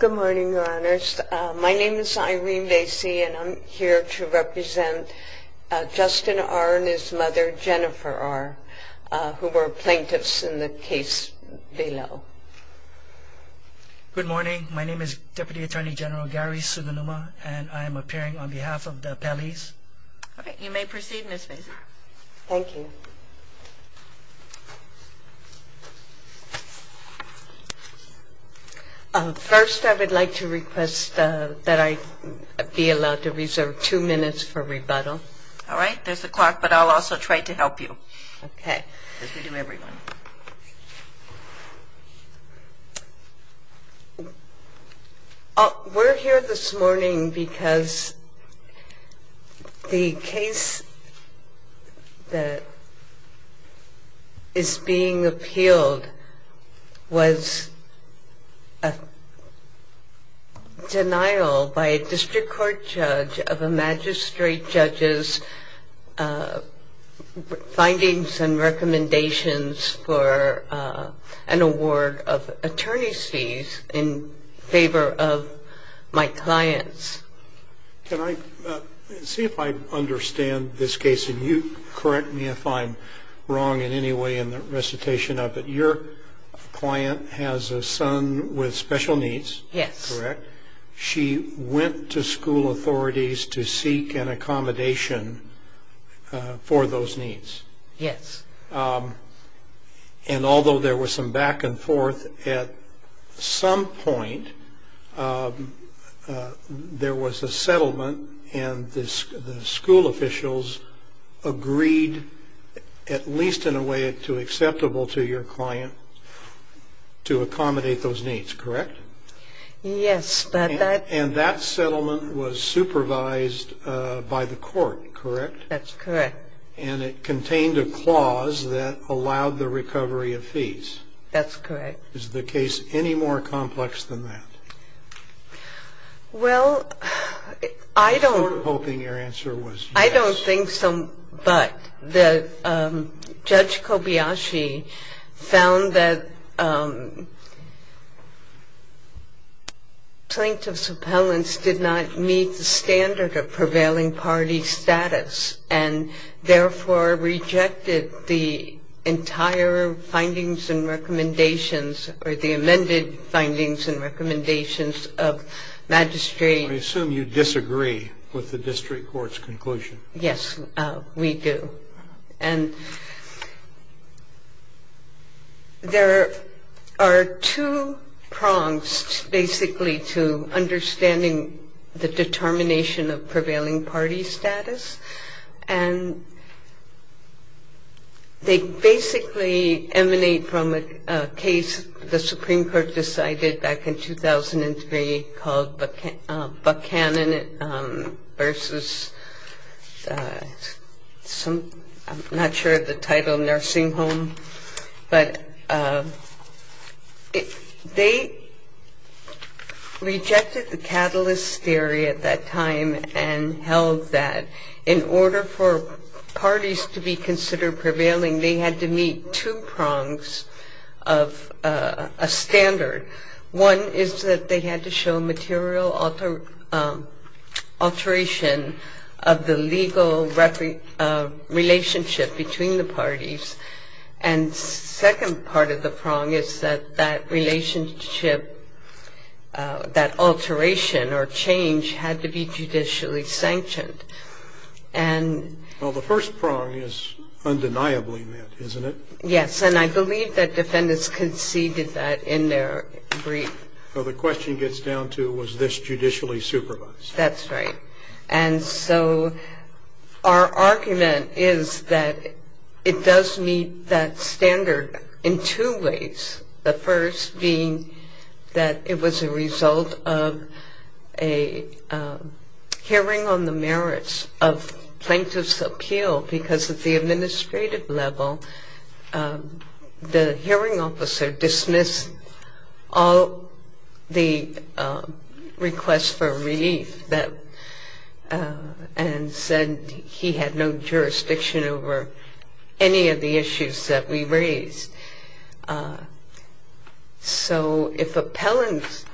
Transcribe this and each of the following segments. Good morning, Your Honors. My name is Irene Bassey, and I'm here to represent Justin R. and his mother, Jennifer R., who were plaintiffs in the case below. Good morning. My name is Deputy Attorney General Gary Sugunuma, and I am appearing on behalf of the appellees. You may proceed, Ms. Bassey. Thank you. First, I would like to request that I be allowed to reserve two minutes for rebuttal. All right. There's the clock, but I'll also try to help you. Okay. As we do every morning. We're here this morning because the case that is being appealed was a denial by a district court judge of a magistrate judge's findings and recommendations for an award of attorneys fees in favor of my clients. Can I see if I understand this case, and you correct me if I'm wrong in any way in the recitation of it. Your client has a son with special needs. Yes. Correct? She went to school authorities to seek an accommodation for those needs. Yes. And although there was some back and forth, at some point there was a settlement and the school officials agreed, at least in a way acceptable to your client, to accommodate those needs, correct? Yes. And that settlement was supervised by the court, correct? That's correct. And it contained a clause that allowed the recovery of fees. That's correct. Is the case any more complex than that? Well, I don't. We were hoping your answer was yes. I don't think so, but Judge Kobayashi found that plaintiff's appellants did not meet the standard of prevailing party status and therefore rejected the entire findings and recommendations or the amended findings and recommendations of magistrate. I assume you disagree with the district court's conclusion. Yes, we do. And there are two prongs, basically, to understanding the determination of prevailing party status. And they basically emanate from a case the Supreme Court decided back in 2003 called Buchanan v. I'm not sure of the title, In order for parties to be considered prevailing, they had to meet two prongs of a standard. One is that they had to show material alteration of the legal relationship between the parties. And second part of the prong is that that relationship, that alteration or change, had to be judicially sanctioned. Well, the first prong is undeniably met, isn't it? Yes, and I believe that defendants conceded that in their brief. So the question gets down to was this judicially supervised? That's right. And so our argument is that it does meet that standard in two ways, the first being that it was a result of a hearing on the merits of plaintiff's appeal because at the administrative level, the hearing officer dismissed all the requests for relief and said he had no jurisdiction over any of the issues that we raised. So if appellants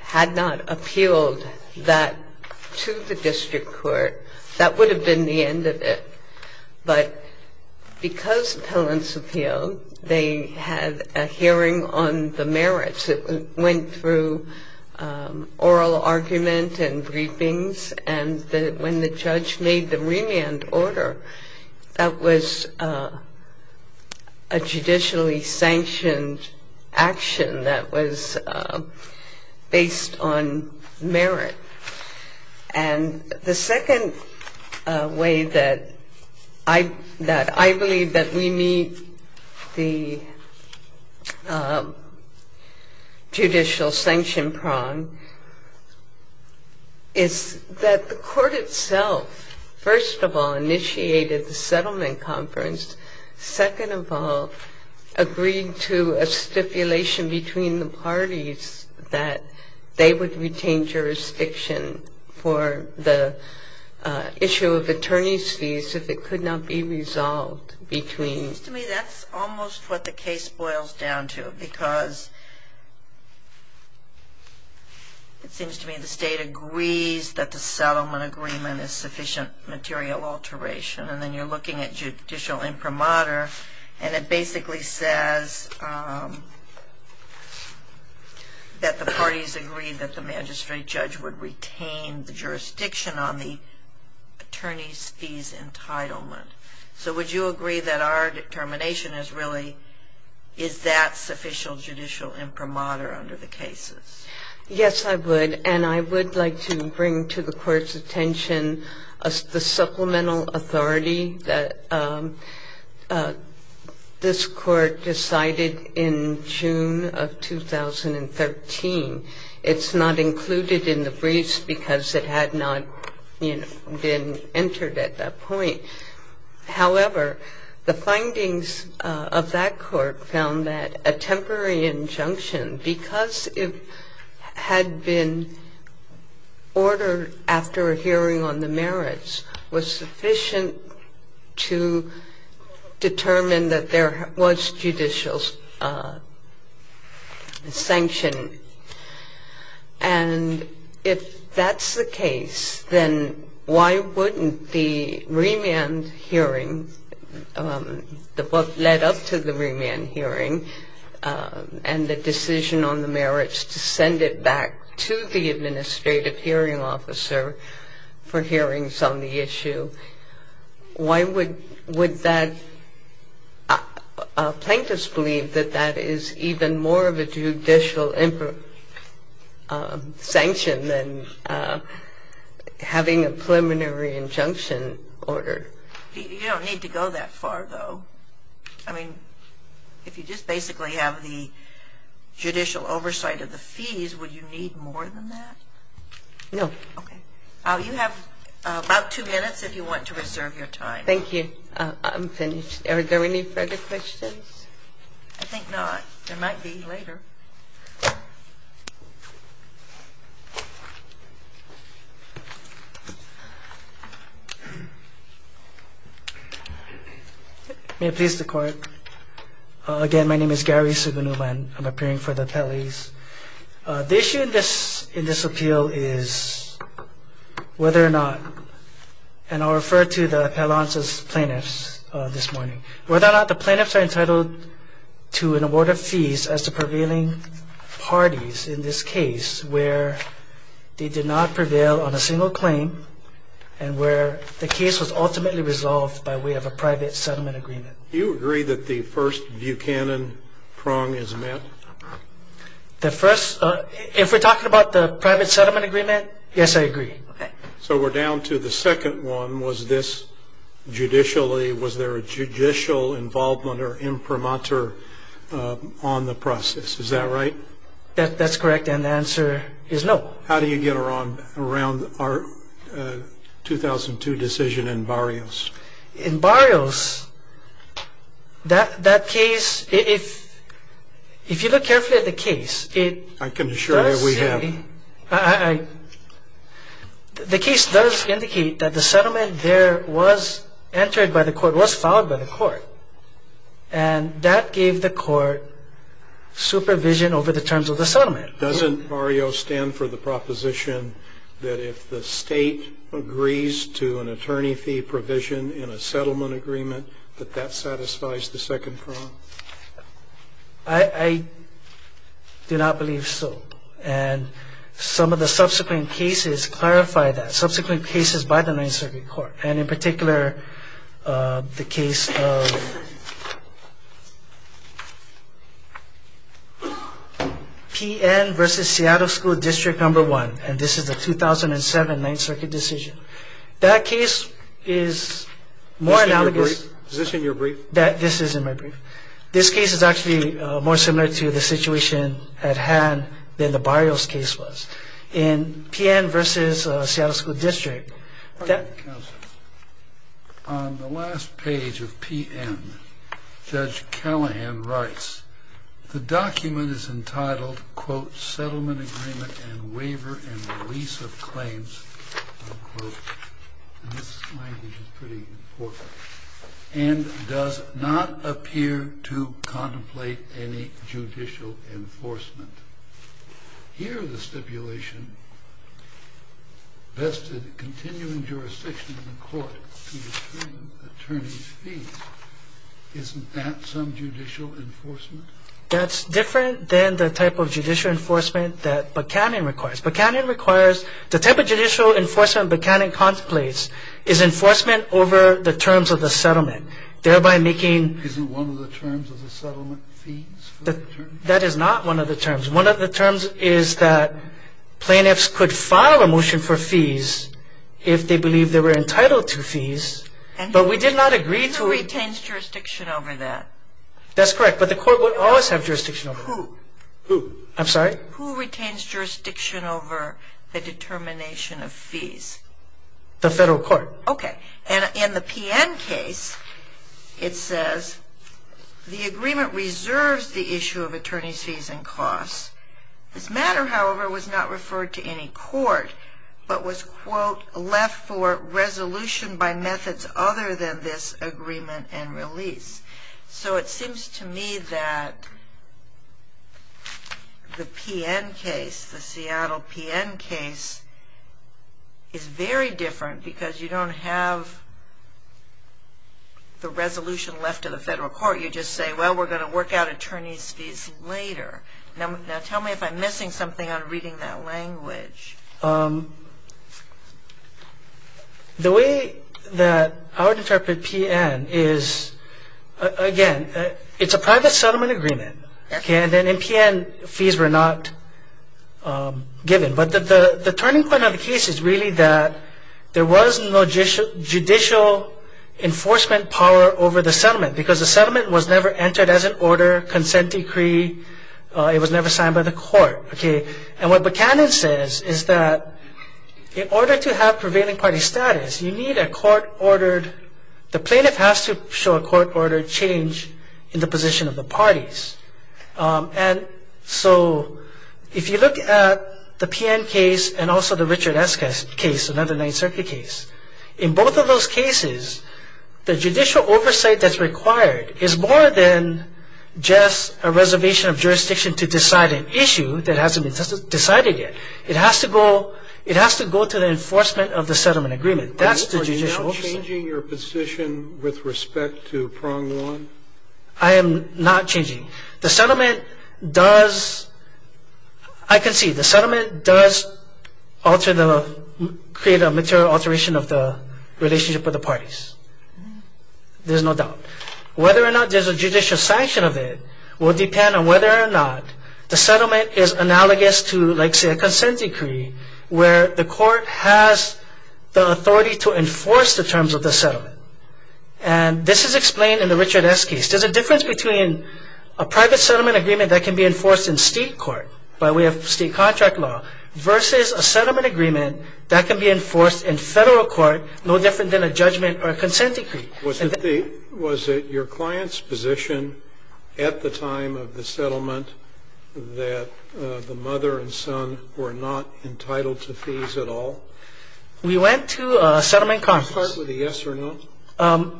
had not appealed that to the district court, that would have been the end of it. But because appellants appealed, they had a hearing on the merits. It went through oral argument and briefings, and when the judge made the remand order, that was a judicially sanctioned action that was based on merit. And the second way that I believe that we meet the judicial sanction prong is that the court itself, first of all, initiated the settlement conference. Second of all, agreed to a stipulation between the parties that they would retain jurisdiction for the issue of attorney's fees if it could not be resolved between. It seems to me that's almost what the case boils down to because it seems to me the state agrees that the settlement agreement is sufficient material alteration, and then you're looking at judicial imprimatur, and it basically says that the parties agree that the magistrate judge would retain the jurisdiction on the attorney's fees entitlement. So would you agree that our determination is really is that sufficient judicial imprimatur under the cases? Yes, I would. And I would like to bring to the Court's attention the supplemental authority that this Court decided in June of 2013. It's not included in the briefs because it had not, you know, been entered at that point. However, the findings of that Court found that a temporary injunction, because it had been ordered after a hearing on the merits, was sufficient to determine that there was judicial sanction. And if that's the case, then why wouldn't the remand hearing, what led up to the remand hearing, and the decision on the merits to send it back to the administrative hearing officer for hearings on the issue, why would that plaintiffs believe that that is even more of a judicial sanction than having a preliminary injunction ordered? You don't need to go that far, though. I mean, if you just basically have the judicial oversight of the fees, would you need more than that? No. Okay. You have about two minutes if you want to reserve your time. Thank you. I'm finished. Are there any further questions? I think not. There might be later. May it please the Court. Again, my name is Gary Sugunulan. I'm appearing for the appellees. The issue in this appeal is whether or not, and I'll refer to the appellants as plaintiffs this morning, whether or not the plaintiffs are entitled to an award of fees as the prevailing case, the case was ultimately resolved by way of a private settlement agreement. Do you agree that the first Buchanan prong is met? The first – if we're talking about the private settlement agreement, yes, I agree. Okay. So we're down to the second one. Was this judicially – was there a judicial involvement or imprimatur on the process? Is that what you're saying? Yes. Is that right? That's correct, and the answer is no. How do you get around our 2002 decision in Barrios? In Barrios, that case – if you look carefully at the case, it does – I can assure you we have. The case does indicate that the settlement there was entered by the court, was filed by the court, and that gave the court supervision over the terms of the settlement. Doesn't Barrios stand for the proposition that if the state agrees to an attorney fee provision in a settlement agreement, that that satisfies the second prong? I do not believe so, and some of the subsequent cases clarify that, by the Ninth Circuit Court, and in particular the case of P.N. v. Seattle School District No. 1, and this is the 2007 Ninth Circuit decision. That case is more analogous – Is this in your brief? This is in my brief. This case is actually more similar to the situation at hand than the Barrios case was. In P.N. v. Seattle School District – On the last page of P.N., Judge Callahan writes, the document is entitled, quote, Settlement Agreement and Waiver and Release of Claims, unquote, and this language is pretty important, and does not appear to contemplate any judicial enforcement. Here the stipulation vested continuing jurisdiction in the court to determine attorney fees. Isn't that some judicial enforcement? That's different than the type of judicial enforcement that Buchanan requires. Buchanan requires – the type of judicial enforcement Buchanan contemplates is enforcement over the terms of the settlement, thereby making – Isn't one of the terms of the settlement fees for the attorney? That is not one of the terms. One of the terms is that plaintiffs could file a motion for fees if they believe they were entitled to fees, but we did not agree to – Who retains jurisdiction over that? That's correct, but the court would always have jurisdiction over that. Who? Who? I'm sorry? Who retains jurisdiction over the determination of fees? The federal court. Okay. And in the PN case, it says, the agreement reserves the issue of attorney fees and costs. This matter, however, was not referred to any court, but was, quote, left for resolution by methods other than this agreement and release. So it seems to me that the PN case, the Seattle PN case, is very different because you don't have the resolution left to the federal court. You just say, well, we're going to work out attorney's fees later. Now tell me if I'm missing something on reading that language. The way that I would interpret PN is, again, it's a private settlement agreement. And in PN, fees were not given. But the turning point of the case is really that there was no judicial enforcement power over the settlement because the settlement was never entered as an order, consent decree. It was never signed by the court. And what Buchanan says is that in order to have prevailing party status, you need a court-ordered, the plaintiff has to show a court-ordered change in the position of the parties. And so if you look at the PN case and also the Richard S. case, another Ninth Circuit case, in both of those cases, the judicial oversight that's required is more than just a reservation of jurisdiction to decide an issue that hasn't been decided yet. It has to go to the enforcement of the settlement agreement. That's the judicial oversight. Are you now changing your position with respect to prong one? I am not changing. The settlement does, I can see the settlement does alter the, create a material alteration of the relationship with the parties. There's no doubt. Whether or not there's a judicial sanction of it will depend on whether or not the settlement is analogous to, like say a consent decree, where the court has the authority to enforce the terms of the settlement. And this is explained in the Richard S. case. There's a difference between a private settlement agreement that can be enforced in state court by way of state contract law versus a settlement agreement that can be enforced in federal court no different than a judgment or a consent decree. Was it your client's position at the time of the settlement that the mother and son were not entitled to fees at all? We went to a settlement conference. Can I start with a yes or no?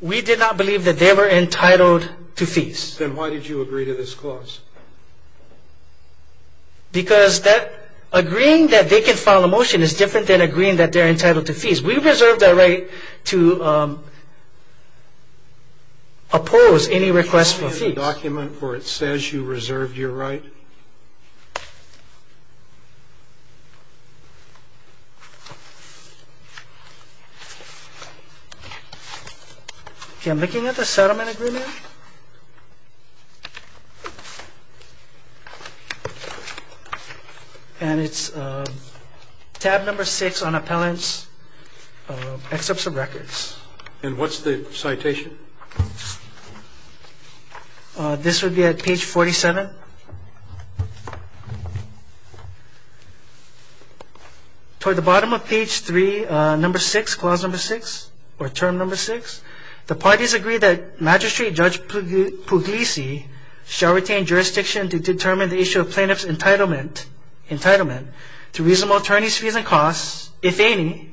We did not believe that they were entitled to fees. Then why did you agree to this clause? Because agreeing that they can file a motion is different than agreeing that they're entitled to fees. We reserved that right to oppose any request for fees. Can you show me the document where it says you reserved your right? Okay, I'm looking at the settlement agreement. And it's tab number six on appellant's excerpts of records. And what's the citation? This would be at page 47. Toward the bottom of page three, number six, clause number six, or term number six, the parties agree that Magistrate Judge Puglisi shall retain jurisdiction to determine the issue of plaintiff's entitlement to reasonable attorneys' fees and costs, if any,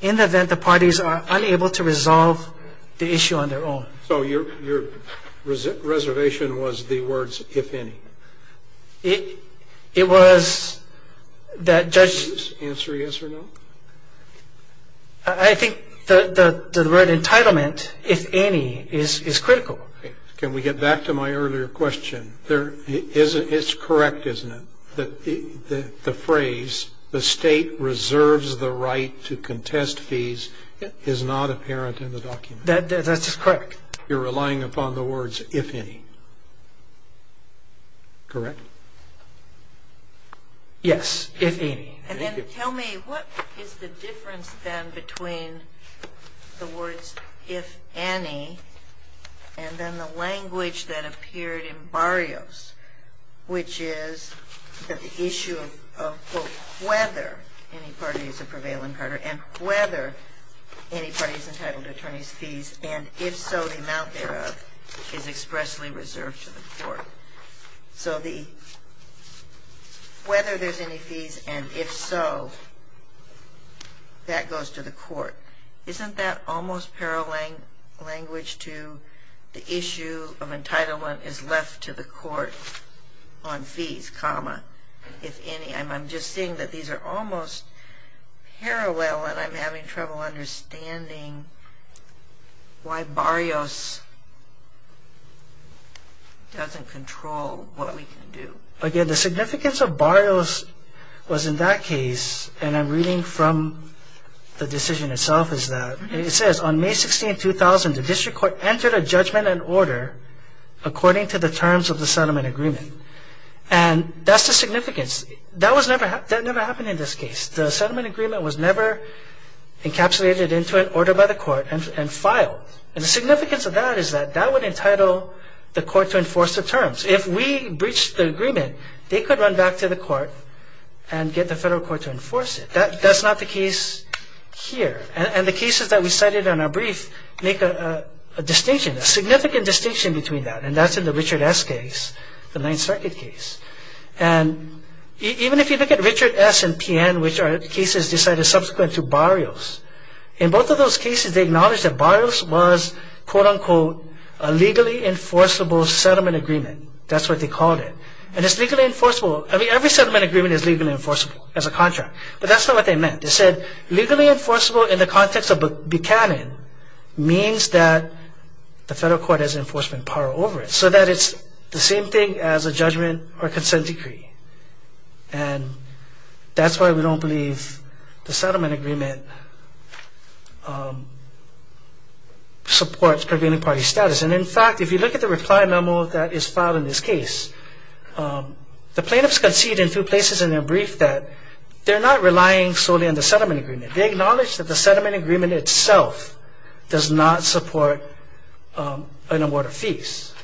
in the event the parties are unable to resolve the issue on their own. So your reservation was the words, if any. It was that Judge... Answer yes or no. I think the word entitlement, if any, is critical. Can we get back to my earlier question? It's correct, isn't it? The phrase, the state reserves the right to contest fees, is not apparent in the document. That's correct. You're relying upon the words, if any. Correct? Yes, if any. And then tell me, what is the difference, then, between the words, if any, and then the language that appeared in Barrios, which is that the issue of, quote, whether any party is a prevailing partner and whether any party is entitled to attorneys' fees, and if so, the amount thereof, is expressly reserved to the court. So the whether there's any fees and if so, that goes to the court. Isn't that almost parallel language to the issue of entitlement is left to the court on fees, comma, if any? I'm just seeing that these are almost parallel and I'm having trouble understanding why Barrios doesn't control what we can do. Again, the significance of Barrios was in that case, and I'm reading from the decision itself, is that it says, on May 16, 2000, the district court entered a judgment and order according to the terms of the settlement agreement. And that's the significance. That never happened in this case. The settlement agreement was never encapsulated into an order by the court and filed. And the significance of that is that that would entitle the court to enforce the terms. If we breached the agreement, they could run back to the court and get the federal court to enforce it. That's not the case here. And the cases that we cited in our brief make a distinction, a significant distinction between that, and that's in the Richard S. case, the Ninth Circuit case. And even if you look at Richard S. and P.N., which are cases decided subsequent to Barrios, in both of those cases they acknowledged that Barrios was, quote, unquote, a legally enforceable settlement agreement. That's what they called it. And it's legally enforceable. I mean, every settlement agreement is legally enforceable as a contract, but that's not what they meant. They said legally enforceable in the context of Buchanan means that the federal court has enforcement power over it, so that it's the same thing as a judgment or consent decree. And that's why we don't believe the settlement agreement supports prevailing party status. And, in fact, if you look at the reply memo that is filed in this case, the plaintiffs concede in two places in their brief that they're not relying solely on the settlement agreement. They acknowledge that the settlement agreement itself does not support an award of fees.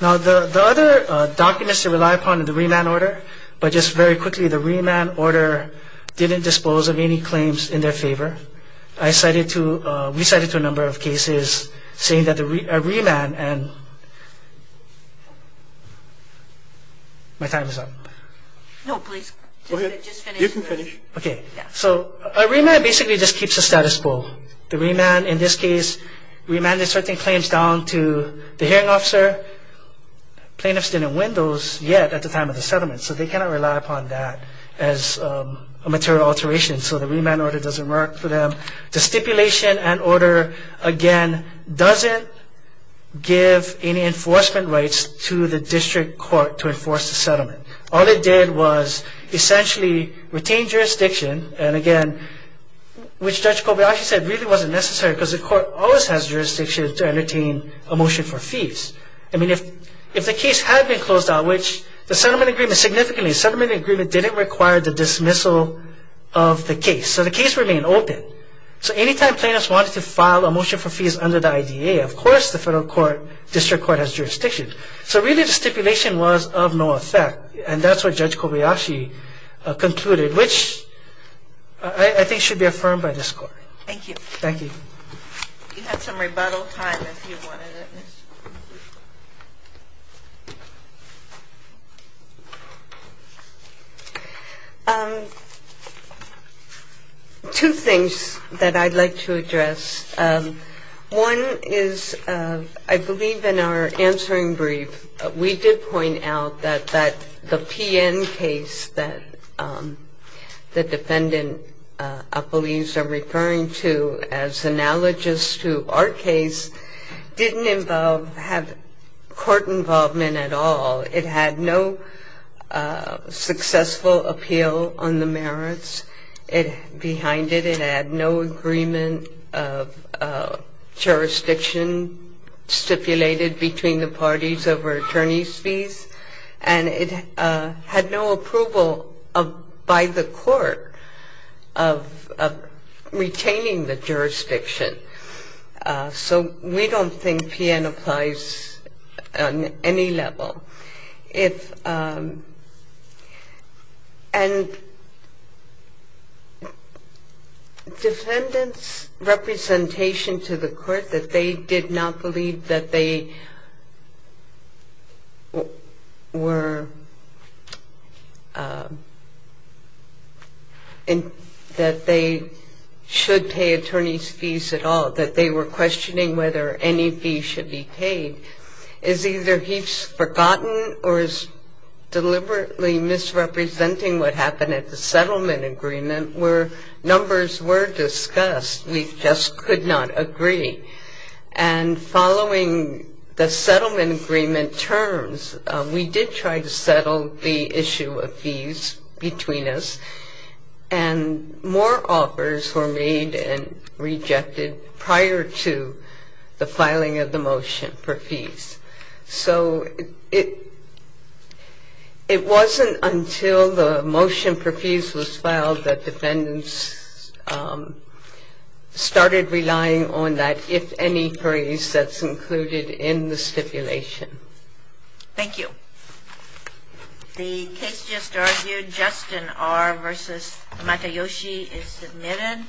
Now, the other documents they rely upon in the remand order, but just very quickly, the remand order didn't dispose of any claims in their favor. I recited to a number of cases saying that a remand and my time is up. No, please. Go ahead. You can finish. Okay. So a remand basically just keeps the status quo. The remand in this case remanded certain claims down to the hearing officer. Plaintiffs didn't win those yet at the time of the settlement, so they cannot rely upon that as a material alteration. So the remand order doesn't work for them. The stipulation and order, again, doesn't give any enforcement rights to the district court to enforce the settlement. All it did was essentially retain jurisdiction, and, again, which Judge Kobayashi said really wasn't necessary because the court always has jurisdiction to entertain a motion for fees. I mean, if the case had been closed out, which the settlement agreement significantly, the settlement agreement didn't require the dismissal of the case, so the case remained open. So any time plaintiffs wanted to file a motion for fees under the IDA, of course the federal court, district court has jurisdiction. So really the stipulation was of no effect, and that's what Judge Kobayashi concluded, which I think should be affirmed by this court. Thank you. Thank you. You had some rebuttal time if you wanted it. Two things that I'd like to address. One is I believe in our answering brief we did point out that the PN case that the defendant believes I'm referring to as analogous to our case didn't have court involvement at all. It had no successful appeal on the merits behind it. It had no agreement of jurisdiction stipulated between the parties over attorney's fees, and it had no approval by the court of retaining the jurisdiction. So we don't think PN applies on any level. And defendants' representation to the court that they did not believe that they should pay attorney's fees at all, that they were questioning whether any fees should be paid, is either he's forgotten or is deliberately misrepresenting what happened at the settlement agreement where numbers were discussed. We just could not agree. And following the settlement agreement terms, we did try to settle the issue of fees between us, and more offers were made and rejected prior to the filing of the motion for fees. So it wasn't until the motion for fees was filed that defendants started relying on that, if any, freeze that's included in the stipulation. Thank you. The case just argued, Justin R. v. Matayoshi, is submitted.